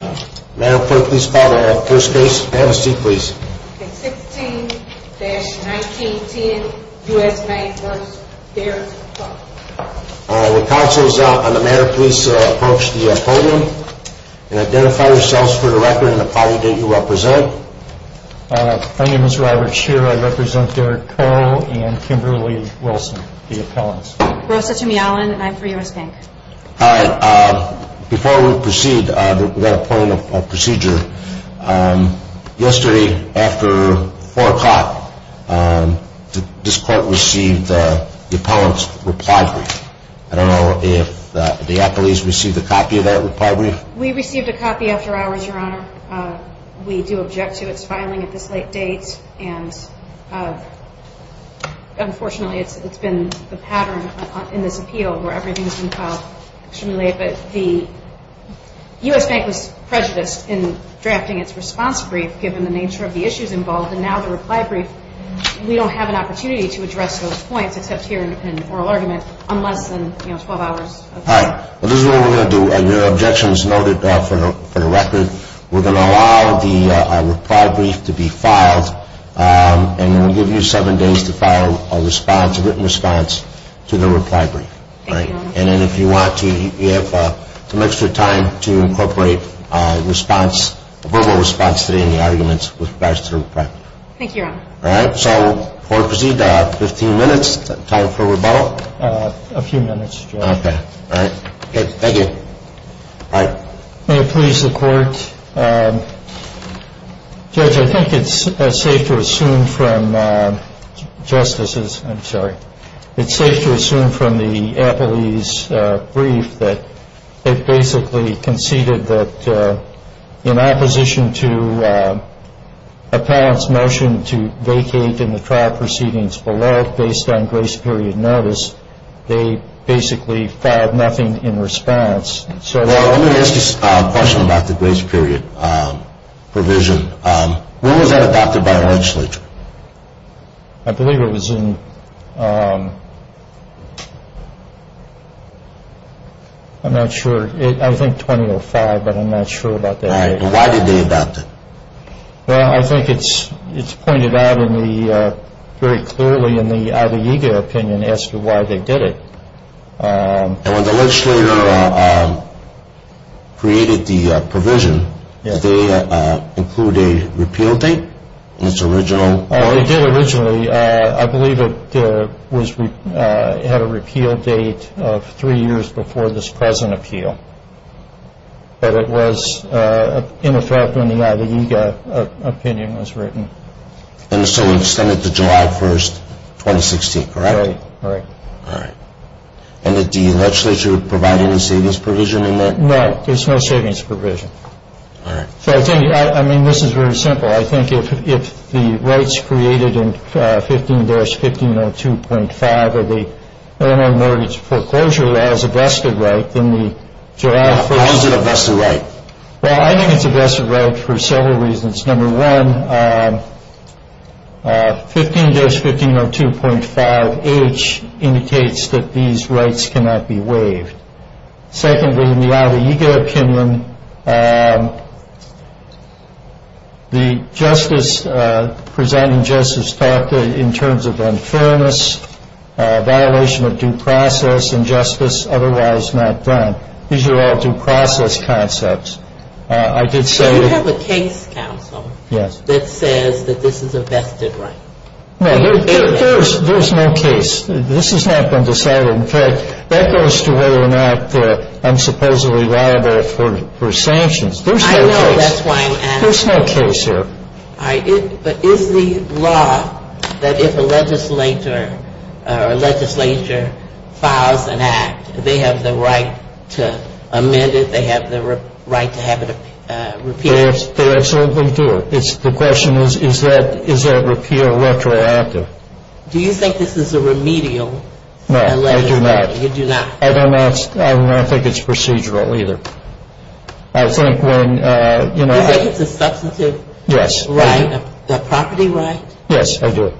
The Council is on the matter. Please approach the podium and identify yourselves for the record and the party that you represent. My name is Robert Shearer. I represent Derek Coe and Kimberly Wilson, the appellants. Rosa Tumialan, and I'm for U.S. Bank. Before we proceed, we've got to point out a procedure. Yesterday, after 4 o'clock, this court received the appellant's reply brief. I don't know if the appellees received a copy of that reply brief. We received a copy after hours, Your Honor. We do object to its filing at this late date. And unfortunately, it's been the pattern in this appeal where everything's been filed extremely late. But the U.S. Bank was prejudiced in drafting its response brief, given the nature of the issues involved. And now the reply brief, we don't have an opportunity to address those points, except here in oral argument, on less than 12 hours. All right. This is what we're going to do. Your objection is noted for the record. We're going to allow the reply brief to be filed, and we'll give you seven days to file a written response to the reply brief. And then if you want to, you have some extra time to incorporate a verbal response today in the arguments with regards to the reply brief. Thank you, Your Honor. All right. So court will proceed to 15 minutes. Time for rebuttal? A few minutes, Judge. Okay. All right. Thank you. All right. May it please the Court? Judge, I think it's safe to assume from Justice's – I'm sorry. It's safe to assume from the appellee's brief that they basically conceded that in opposition to appellant's motion to vacate in the trial proceedings below, based on grace period notice, they basically filed nothing in response. Well, let me ask you a question about the grace period provision. When was that adopted by the legislature? I believe it was in – I'm not sure. I think 2005, but I'm not sure about that date. All right. And why did they adopt it? Well, I think it's pointed out in the – very clearly in the Ida Iga opinion as to why they did it. And when the legislature created the provision, did they include a repeal date in its original – They did originally. I believe it was – had a repeal date of three years before this present appeal. But it was in effect when the Ida Iga opinion was written. And so it extended to July 1, 2016, correct? Correct. All right. And did the legislature provide any savings provision in that? No, there's no savings provision. All right. So I think – I mean, this is very simple. I think if the rights created in 15-1502.5 of the Illinois Mortgage Foreclosure Law is a vested right, then the July 1st – Why is it a vested right? Well, I think it's a vested right for several reasons. Number one, 15-1502.5H indicates that these rights cannot be waived. Secondly, in the Ida Iga opinion, the justice – presenting justice talked in terms of unfairness, violation of due process, and justice otherwise not done. These are all due process concepts. I did say – So you have a case counsel that says that this is a vested right? No, there's no case. This has not been decided. In fact, that goes to whether or not I'm supposedly liable for sanctions. There's no case. I know that's why I'm asking. There's no case here. All right. But is the law that if a legislature files an act, they have the right to amend it, they have the right to have it repealed? They absolutely do. The question is, is that repeal retroactive? Do you think this is a remedial legislation? No, I do not. You do not? I don't think it's procedural either. I think when – Do you think it's a substantive right? Yes. A property right? Yes, I do.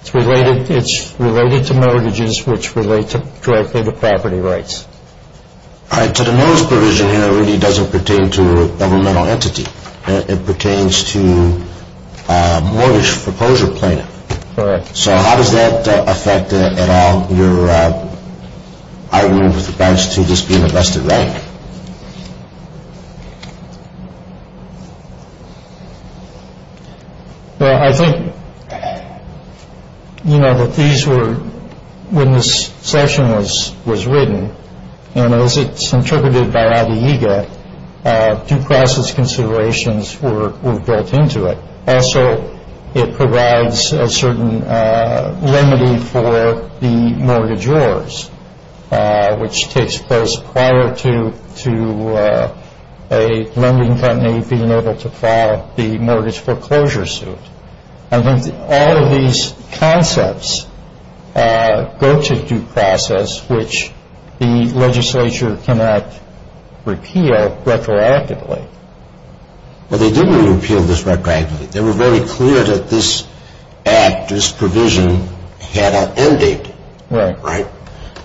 It's related to mortgages, which relate directly to property rights. To the most provision here, it really doesn't pertain to a governmental entity. It pertains to mortgage proposal plaintiff. Correct. So how does that affect at all your argument with regards to this being a vested right? Well, I think, you know, that these were – when this section was written, and as it's interpreted by Adeyega, due process considerations were built into it. Also, it provides a certain remedy for the mortgageors, which takes place prior to a lending company being able to file the mortgage foreclosure suit. I think all of these concepts go to due process, which the legislature cannot repeal retroactively. Well, they didn't repeal this retroactively. They were very clear that this act, this provision, had an end date. Right. Right.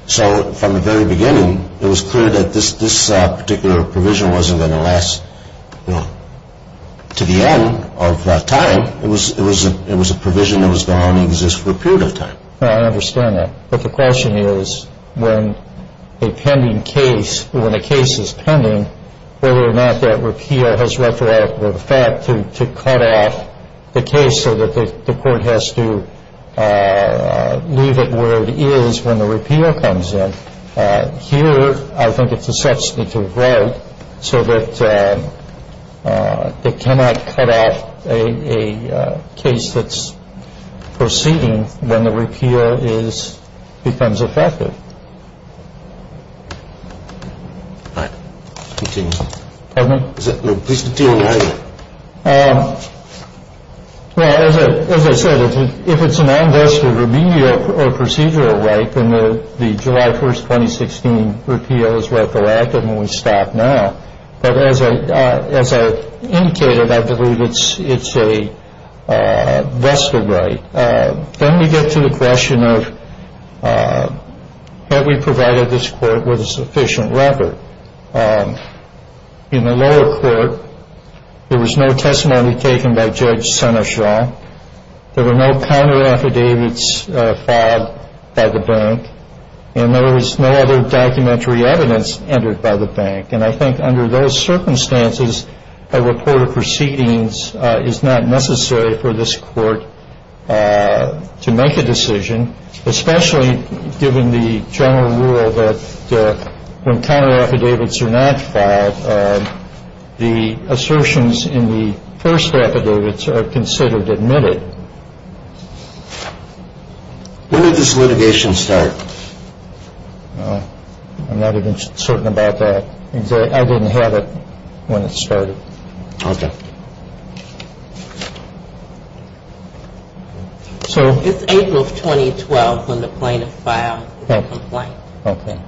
So from the very beginning, it was clear that this particular provision wasn't going to last to the end of time. It was a provision that was going to exist for a period of time. I understand that. But the question is, when a pending case – when a case is pending, whether or not that repeal has retroactive effect to cut out the case so that the court has to leave it where it is when the repeal comes in. Here, I think it's a substantive right so that it cannot cut out a case that's proceeding when the repeal is – becomes effective. All right. Continue. Pardon me? Please continue. Well, as I said, if it's a non-vested remedial or procedural right, then the July 1st, 2016 repeal is retroactive and we stop now. But as I indicated, I believe it's a vested right. Then we get to the question of have we provided this court with a sufficient record? In the lower court, there was no testimony taken by Judge Seneschal. There were no counter-affidavits filed by the bank. And there was no other documentary evidence entered by the bank. And I think under those circumstances, a report of proceedings is not necessary for this court to make a decision, especially given the general rule that when counter-affidavits are not filed, the assertions in the first affidavits are considered admitted. When did this litigation start? I'm not even certain about that. I didn't have it when it started. Okay. It's April of 2012 when the plaintiff filed the complaint. Okay.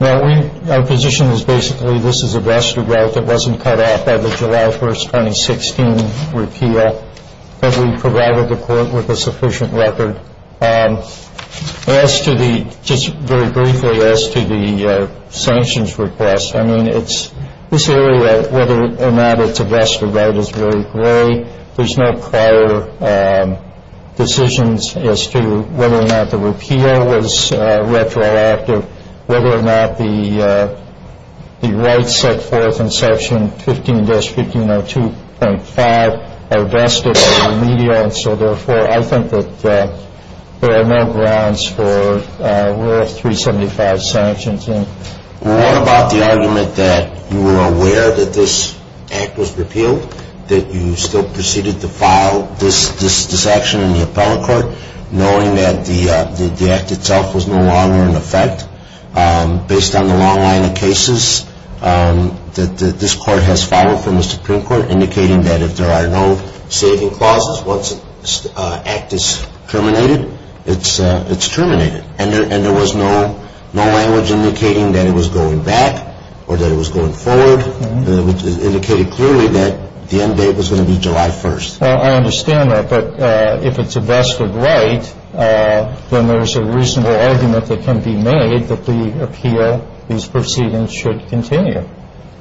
Now, our position is basically this is a vested right that wasn't cut off by the July 1st, 2016 repeal. But we provided the court with a sufficient record. As to the, just very briefly, as to the sanctions request, I mean, it's this area whether or not it's a vested right is very gray. There's no prior decisions as to whether or not the repeal was retroactive, whether or not the rights set forth in Section 15-1502.5 are vested or remedial. And so, therefore, I think that there are no grounds for worth 375 sanctions. What about the argument that you were aware that this act was repealed, that you still proceeded to file this action in the appellate court, knowing that the act itself was no longer in effect, based on the long line of cases that this court has filed from the Supreme Court, indicating that if there are no saving clauses once an act is terminated, it's terminated. And there was no language indicating that it was going back or that it was going forward. It indicated clearly that the end date was going to be July 1st. Well, I understand that. But if it's a vested right, then there's a reasonable argument that can be made that the appeal, these proceedings should continue.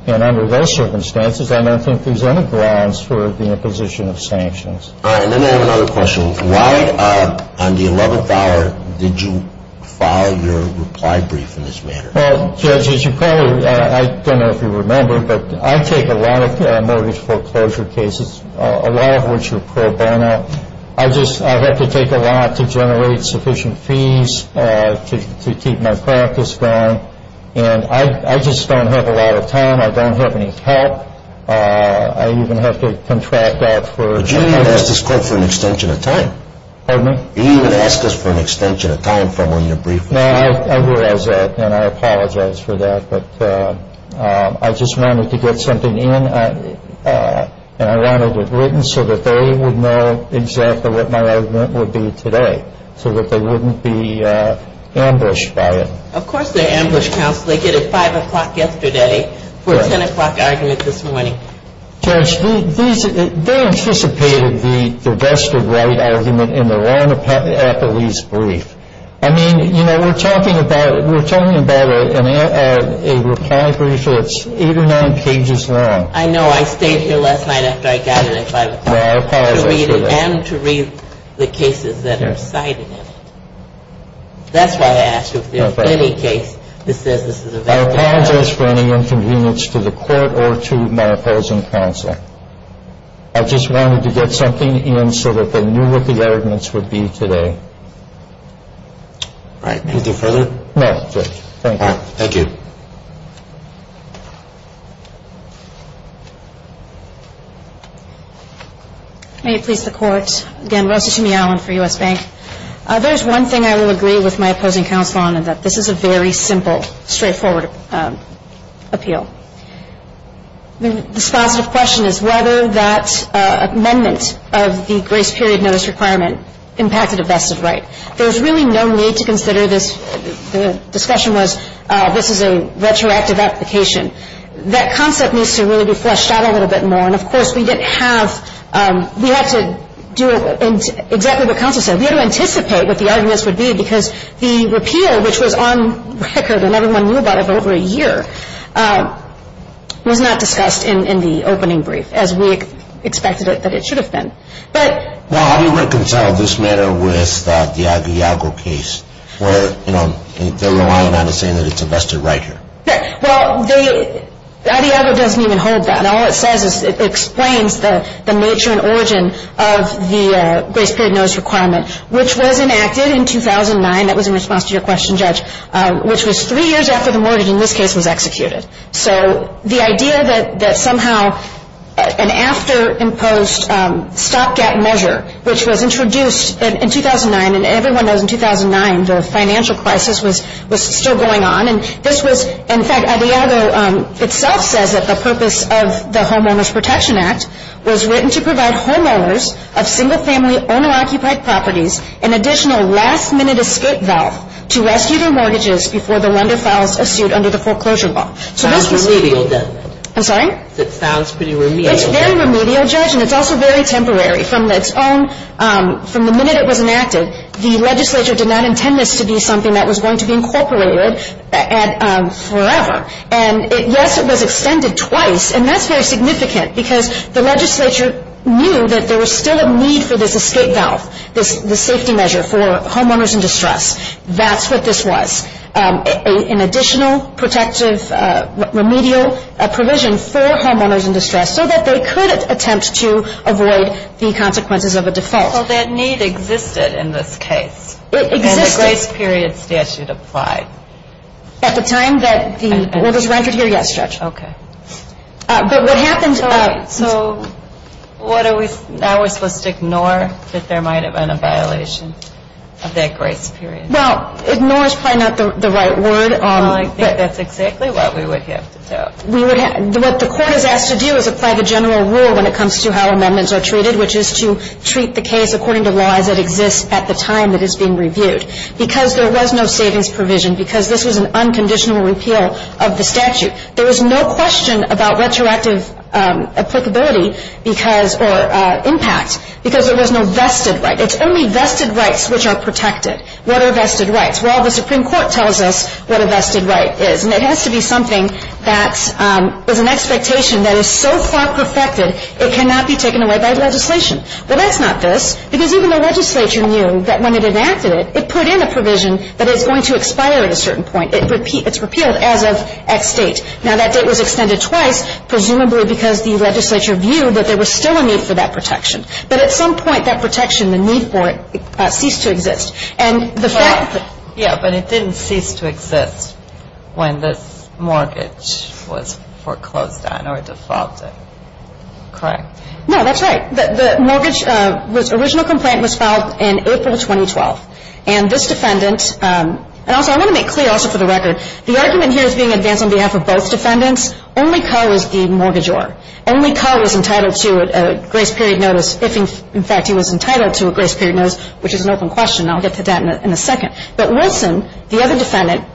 And under those circumstances, I don't think there's any grounds for the imposition of sanctions. All right. Let me have another question. Why on the 11th hour did you file your reply brief in this manner? Well, Judge, as you probably, I don't know if you remember, but I take a lot of mortgage foreclosure cases, a lot of which are pro bono. I just have to take a lot to generate sufficient fees to keep my practice going. And I just don't have a lot of time. I don't have any help. I even have to contract out for- But you didn't ask this court for an extension of time. Pardon me? You didn't ask us for an extension of time from when you briefed us. No, I realize that, and I apologize for that. But I just wanted to get something in. And I wanted it written so that they would know exactly what my argument would be today so that they wouldn't be ambushed by it. Of course they're ambushed, counsel. They did it 5 o'clock yesterday for a 10 o'clock argument this morning. Judge, they anticipated the vested right argument in the Warren appellee's brief. I mean, you know, we're talking about a reply brief that's eight or nine pages long. I know. I stayed here last night after I got it at 5 o'clock. No, I apologize for that. And to read the cases that are cited in it. That's why I asked you if there was any case that says this is a vested right. I apologize for any inconvenience to the court or to my opposing counsel. I just wanted to get something in so that they knew what the arguments would be today. All right. Anything further? No, Judge. Thank you. All right. Thank you. May it please the Court. Again, Rosa Tumey-Allen for U.S. Bank. There's one thing I will agree with my opposing counsel on, and that this is a very simple, straightforward appeal. This positive question is whether that amendment of the grace period notice requirement impacted a vested right. There's really no need to consider this. The discussion was this is a retroactive application. That concept needs to really be fleshed out a little bit more. And, of course, we didn't have we had to do exactly what counsel said. We had to anticipate what the arguments would be because the repeal, which was on record and everyone knew about it for over a year, was not discussed in the opening brief as we expected that it should have been. Well, how do you reconcile this matter with the Adiago case where they're relying on it saying that it's a vested right here? Well, Adiago doesn't even hold that. All it says is it explains the nature and origin of the grace period notice requirement, which was enacted in 2009. That was in response to your question, Judge, which was three years after the mortgage in this case was executed. So the idea that somehow an after-imposed stopgap measure, which was introduced in 2009, and everyone knows in 2009 the financial crisis was still going on. And this was, in fact, Adiago itself says that the purpose of the Homeowners Protection Act was written to provide homeowners of single-family owner-occupied properties an additional last-minute escape valve to rescue their mortgages before the lender files a suit under the foreclosure law. Sounds remedial, doesn't it? I'm sorry? It sounds pretty remedial. It's very remedial, Judge, and it's also very temporary. From the minute it was enacted, the legislature did not intend this to be something that was going to be incorporated forever. And yes, it was extended twice, and that's very significant because the legislature knew that there was still a need for this escape valve, this safety measure for homeowners in distress. That's what this was, an additional protective remedial provision for homeowners in distress so that they could attempt to avoid the consequences of a default. Well, that need existed in this case. It existed. And the grace period statute applied. At the time that the order was written here, yes, Judge. Okay. But what happened... Right. So now we're supposed to ignore that there might have been a violation of that grace period? Well, ignore is probably not the right word. I think that's exactly what we would have to do. What the court is asked to do is apply the general rule when it comes to how amendments are treated, which is to treat the case according to laws that exist at the time that it's being reviewed. Because there was no savings provision, because this was an unconditional repeal of the statute, there was no question about retroactive applicability or impact because there was no vested right. It's only vested rights which are protected. What are vested rights? Well, the Supreme Court tells us what a vested right is, and it has to be something that is an expectation that is so far perfected it cannot be taken away by legislation. Well, that's not this, because even the legislature knew that when it enacted it, it put in a provision that is going to expire at a certain point. It's repealed as of X date. Now, that date was extended twice, presumably because the legislature viewed that there was still a need for that protection. But at some point, that protection, the need for it ceased to exist. But it didn't cease to exist when this mortgage was foreclosed on or defaulted. Correct? No, that's right. The original complaint was filed in April 2012. And this defendant, and also I want to make clear also for the record, the argument here is being advanced on behalf of both defendants. Only Carr was the mortgagor. Only Carr was entitled to a grace period notice if, in fact, he was entitled to a grace period notice, which is an open question, and I'll get to that in a second. But Wilson, the other defendant,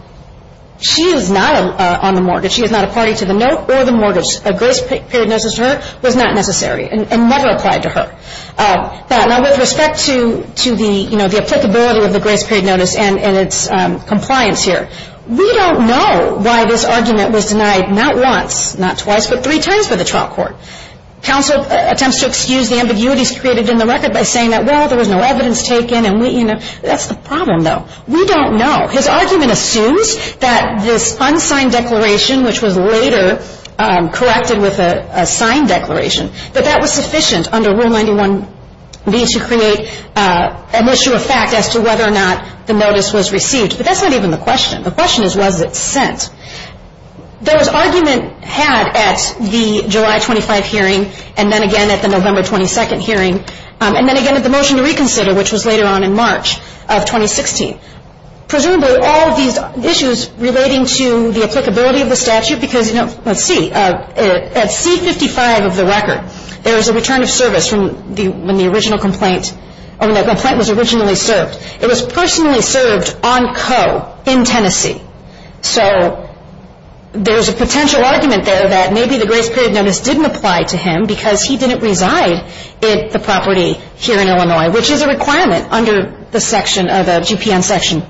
she is not on the mortgage. She is not a party to the note or the mortgage. A grace period notice to her was not necessary and never applied to her. Now, with respect to the applicability of the grace period notice and its compliance here, we don't know why this argument was denied not once, not twice, but three times by the trial court. Counsel attempts to excuse the ambiguities created in the record by saying that, well, there was no evidence taken and, you know, that's the problem, though. We don't know. His argument assumes that this unsigned declaration, which was later corrected with a signed declaration, that that was sufficient under Rule 91B to create an issue of fact as to whether or not the notice was received. But that's not even the question. The question is was it sent. There was argument had at the July 25 hearing and then again at the November 22 hearing and then again at the motion to reconsider, which was later on in March of 2016. Presumably, all of these issues relating to the applicability of the statute because, you know, let's see. At C-55 of the record, there was a return of service when the original complaint or when the complaint was originally served. It was personally served on Coe in Tennessee. So there's a potential argument there that maybe the grace period notice didn't apply to him because he didn't reside at the property here in Illinois, which is a requirement under the section of the GPN section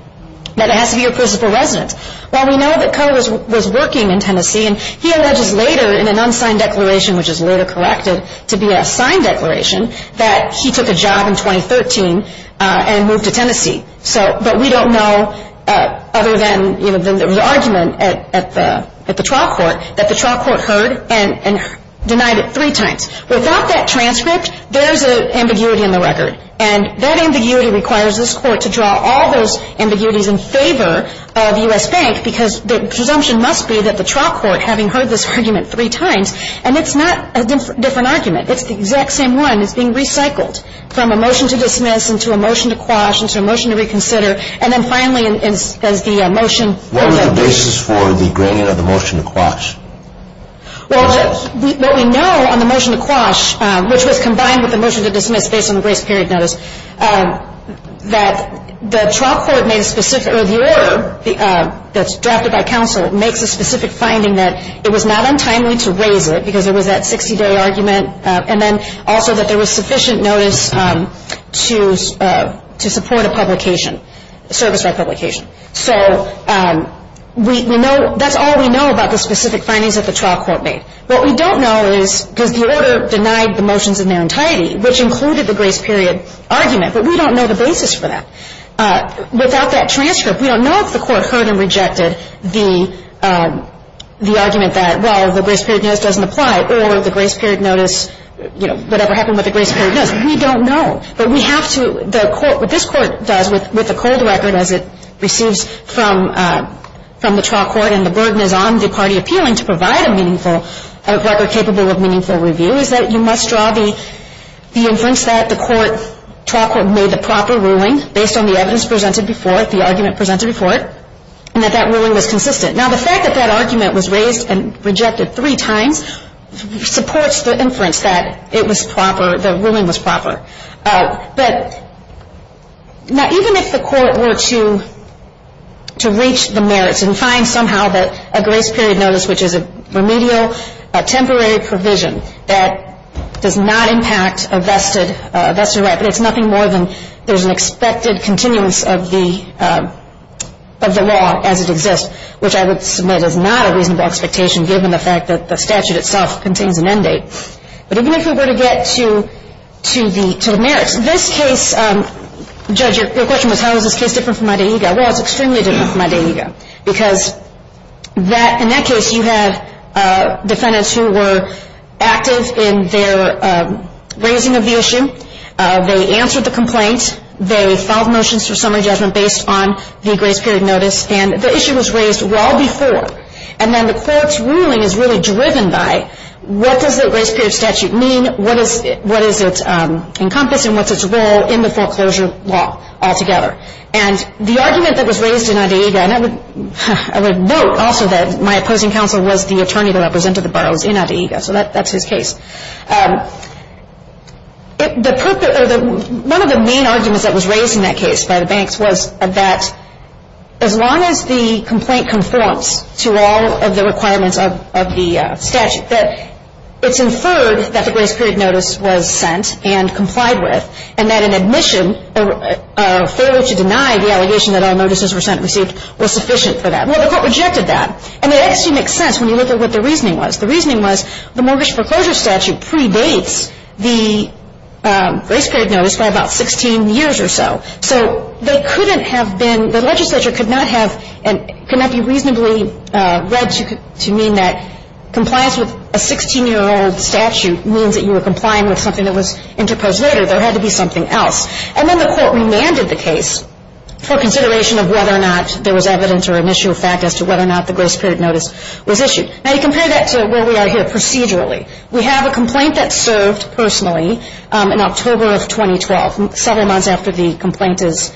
that it has to be a principal resident. Well, we know that Coe was working in Tennessee, and he alleges later in an unsigned declaration, which is later corrected to be a signed declaration, that he took a job in 2013 and moved to Tennessee. But we don't know other than there was an argument at the trial court that the trial court heard and denied it three times. Without that transcript, there's an ambiguity in the record. And that ambiguity requires this Court to draw all those ambiguities in favor of U.S. Bank because the presumption must be that the trial court, having heard this argument three times, and it's not a different argument. It's the exact same one. It's being recycled from a motion to dismiss and to a motion to quash and to a motion to reconsider, and then finally as the motion goes up. What was the basis for the gradient of the motion to quash? Well, what we know on the motion to quash, which was combined with the motion to dismiss based on the grace period notice, that the trial court made a specific, or the order that's drafted by counsel, makes a specific finding that it was not untimely to raise it because there was that 60-day argument, and then also that there was sufficient notice to support a publication, a service-wide publication. So we know, that's all we know about the specific findings that the trial court made. What we don't know is, because the order denied the motions in their entirety, which included the grace period argument, but we don't know the basis for that. Without that transcript, we don't know if the Court heard and rejected the argument that, well, the grace period notice doesn't apply, or the grace period notice, you know, whatever happened with the grace period notice. We don't know. But we have to, the Court, what this Court does with the cold record as it receives from the trial court and the burden is on the party appealing to provide a meaningful record capable of meaningful review, is that you must draw the inference that the trial court made the proper ruling, based on the evidence presented before it, the argument presented before it, and that that ruling was consistent. Now, the fact that that argument was raised and rejected three times supports the inference that it was proper, the ruling was proper. But even if the Court were to reach the merits and find somehow that a grace period notice, which is a remedial temporary provision that does not impact a vested right, but it's nothing more than there's an expected continuance of the law as it exists, which I would submit is not a reasonable expectation, given the fact that the statute itself contains an end date. But even if we were to get to the merits, this case, Judge, your question was how is this case different from my day ego. Well, it's extremely different from my day ego, because in that case, you had defendants who were active in their raising of the issue. They answered the complaint. They filed motions for summary judgment based on the grace period notice. And the issue was raised well before. And then the Court's ruling is really driven by what does the grace period statute mean, what does it encompass, and what's its role in the foreclosure law altogether. And the argument that was raised in my day ego, and I would note also that my opposing counsel was the attorney that represented the boroughs in my day ego, so that's his case. One of the main arguments that was raised in that case by the banks was that as long as the complaint conforms to all of the requirements of the statute, that it's inferred that the grace period notice was sent and complied with, and that an admission, a failure to deny the allegation that all notices were sent and received, was sufficient for that. Well, the Court rejected that. And it actually makes sense when you look at what the reasoning was. The reasoning was the mortgage foreclosure statute predates the grace period notice by about 16 years or so. So they couldn't have been, the legislature could not have, could not be reasonably read to mean that compliance with a 16-year-old statute means that you were complying with something that was interposed later. There had to be something else. And then the Court remanded the case for consideration of whether or not there was evidence or an issue of fact as to whether or not the grace period notice was issued. Now, you compare that to where we are here procedurally. We have a complaint that served personally in October of 2012, several months after the complaint is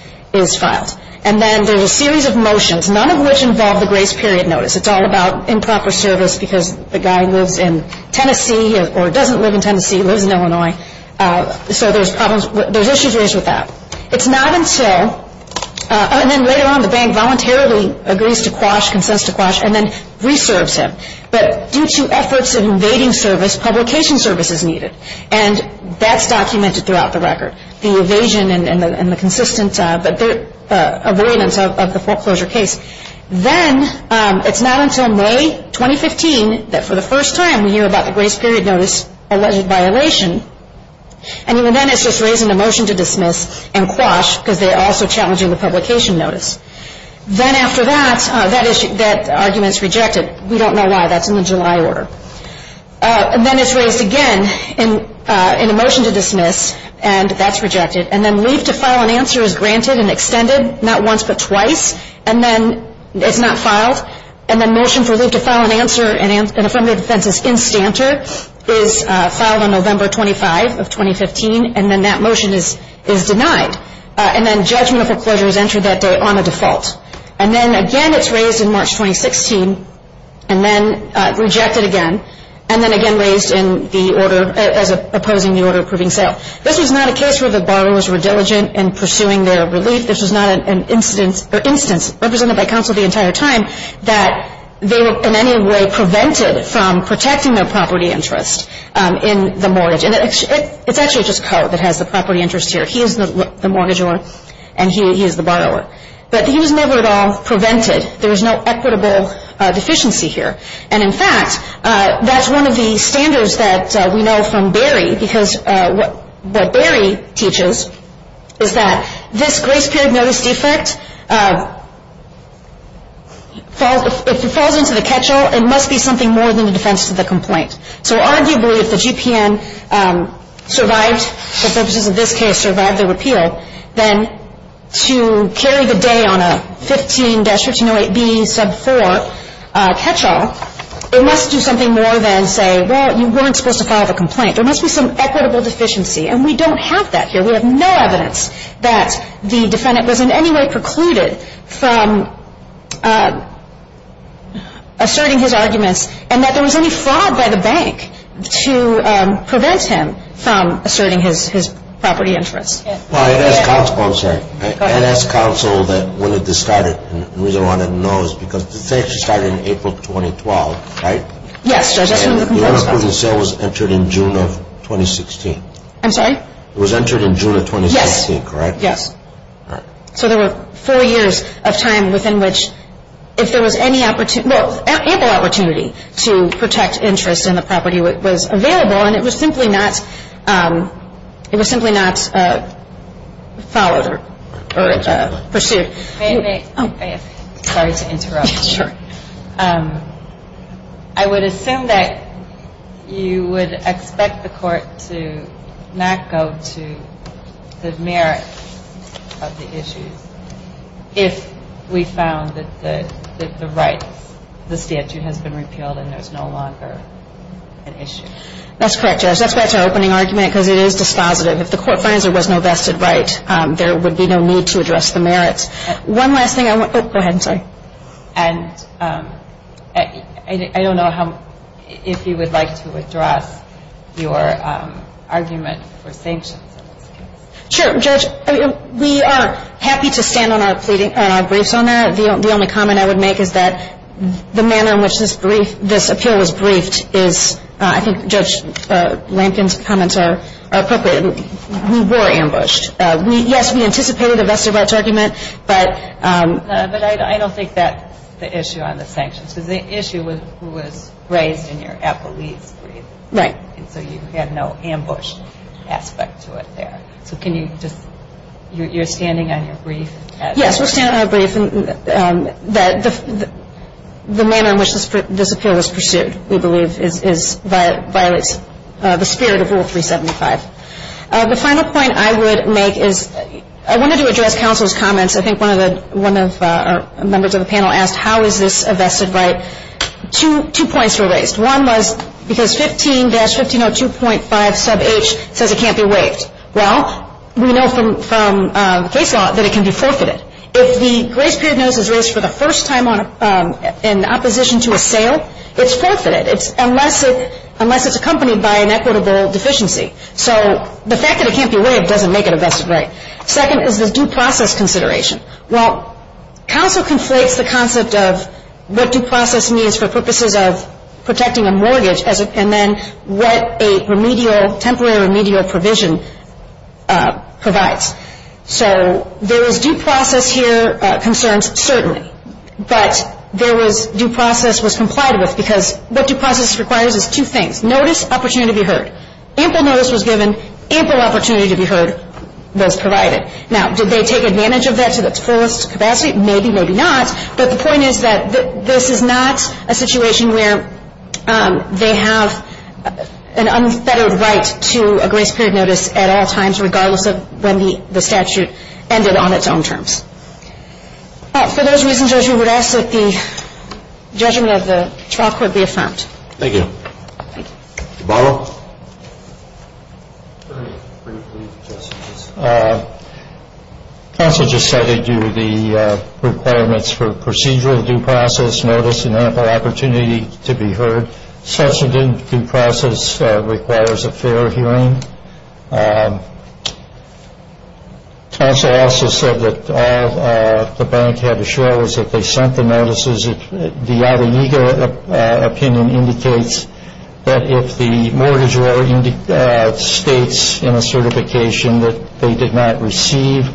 filed. And then there's a series of motions, none of which involve the grace period notice. It's all about improper service because the guy lives in Tennessee or doesn't live in Tennessee, lives in Illinois. So there's problems, there's issues raised with that. It's not until, and then later on the bank voluntarily agrees to quash, consents to quash, and then reserves him. But due to efforts of invading service, publication service is needed. And that's documented throughout the record, the evasion and the consistent avoidance of the foreclosure case. Then it's not until May 2015 that for the first time we hear about the grace period notice alleged violation. And even then it's just raising the motion to dismiss and quash because they're also challenging the publication notice. Then after that, that argument is rejected. We don't know why. That's in the July order. And then it's raised again in a motion to dismiss, and that's rejected. And then leave to file an answer is granted and extended, not once but twice. And then it's not filed. And then motion for leave to file an answer in Affirmative Defense's instanter is filed on November 25 of 2015. And then that motion is denied. And then judgment of foreclosure is entered that day on a default. And then, again, it's raised in March 2016 and then rejected again and then again raised in the order as opposing the order approving sale. This was not a case where the borrowers were diligent in pursuing their relief. This was not an instance, represented by counsel the entire time, that they were in any way prevented from protecting their property interest in the mortgage. And it's actually just Coe that has the property interest here. He is the mortgage owner and he is the borrower. But he was never at all prevented. There is no equitable deficiency here. And, in fact, that's one of the standards that we know from Berry, because what Berry teaches is that this grace period notice defect, if it falls into the catchall, it must be something more than a defense to the complaint. So, arguably, if the GPN survived, for purposes of this case, survived the repeal, then to carry the day on a 15-1508B sub 4 catchall, it must do something more than say, well, you weren't supposed to file the complaint. There must be some equitable deficiency. And we don't have that here. We have no evidence that the defendant was in any way precluded from asserting his arguments and that there was any fraud by the bank to prevent him from asserting his property interest. Well, I'd ask counsel, I'm sorry. Go ahead. I'd ask counsel that when it was started. And the reason I want to know is because the theft started in April 2012, right? Yes, Judge. That's when the complaint was filed. The unapproved sale was entered in June of 2016. I'm sorry? It was entered in June of 2016, correct? Yes. All right. So there were four years of time within which, if there was any opportunity well, ample opportunity to protect interest in the property that was available, and it was simply not, it was simply not followed or pursued. Sorry to interrupt. Sure. I would assume that you would expect the court to not go to the merits of the issues if we found that the rights, the statute has been repealed and there's no longer an issue. That's correct, Judge. That's why it's our opening argument because it is dispositive. If the court finds there was no vested right, there would be no need to address the merits. One last thing. Go ahead. I'm sorry. And I don't know if you would like to address your argument for sanctions in this case. Sure, Judge. We are happy to stand on our briefs on that. The only comment I would make is that the manner in which this appeal was briefed is, I think Judge Lampkin's comments are appropriate. We were ambushed. Yes, we anticipated a vested rights argument. But I don't think that's the issue on the sanctions. Because the issue was who was raised in your appellee's brief. Right. And so you had no ambush aspect to it there. So can you just, you're standing on your brief? Yes, we're standing on our brief. The manner in which this appeal was pursued, we believe, violates the spirit of Rule 375. The final point I would make is I wanted to address counsel's comments. I think one of our members of the panel asked how is this a vested right. Two points were raised. One was because 15-1502.5 sub H says it can't be waived. Well, we know from case law that it can be forfeited. If the grace period notice is raised for the first time in opposition to a sale, it's forfeited, unless it's accompanied by an equitable deficiency. So the fact that it can't be waived doesn't make it a vested right. Second is the due process consideration. Well, counsel conflates the concept of what due process means for purposes of protecting a mortgage and then what a remedial, temporary remedial provision provides. So there is due process here concerns certainly. But there was due process was complied with because what due process requires is two things. Notice, opportunity to be heard. Ample notice was given. Ample opportunity to be heard was provided. Now, did they take advantage of that to the fullest capacity? Maybe, maybe not. But the point is that this is not a situation where they have an unfettered right to a grace period notice at all times, regardless of when the statute ended on its own terms. For those reasons, Judge, we would ask that the judgment of the trial court be affirmed. Thank you. Mr. Barlow. Counsel just said they do the requirements for procedural due process notice and ample opportunity to be heard. Such a due process requires a fair hearing. Counsel also said that all the bank had to show was that they sent the notices. The other legal opinion indicates that if the mortgager states in a certification that they did not receive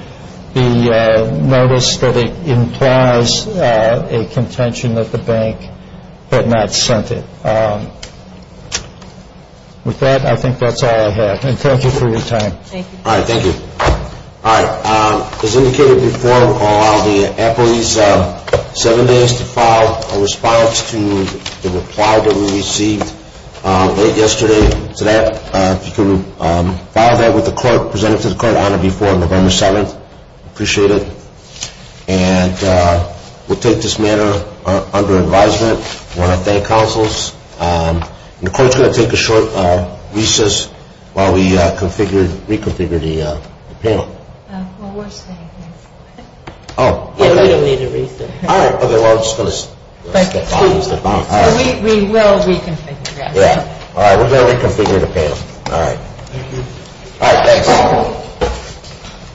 the notice, that it implies a contention that the bank had not sent it. With that, I think that's all I have. And thank you for your time. Thank you. All right. Thank you. All right. As indicated before, we'll allow the employees seven days to file a response to the reply that we received late yesterday. So that you can file that with the clerk, present it to the clerk on or before November 7th. Appreciate it. And we'll take this matter under advisement. I want to thank counsels. The clerk's going to take a short recess while we reconfigure the panel. Well, we're staying here. Oh. We don't need a recess. All right. Okay. Well, I'm just going to step off. We will reconfigure. Yeah. All right. We're going to reconfigure the panel. All right. All right. Thanks.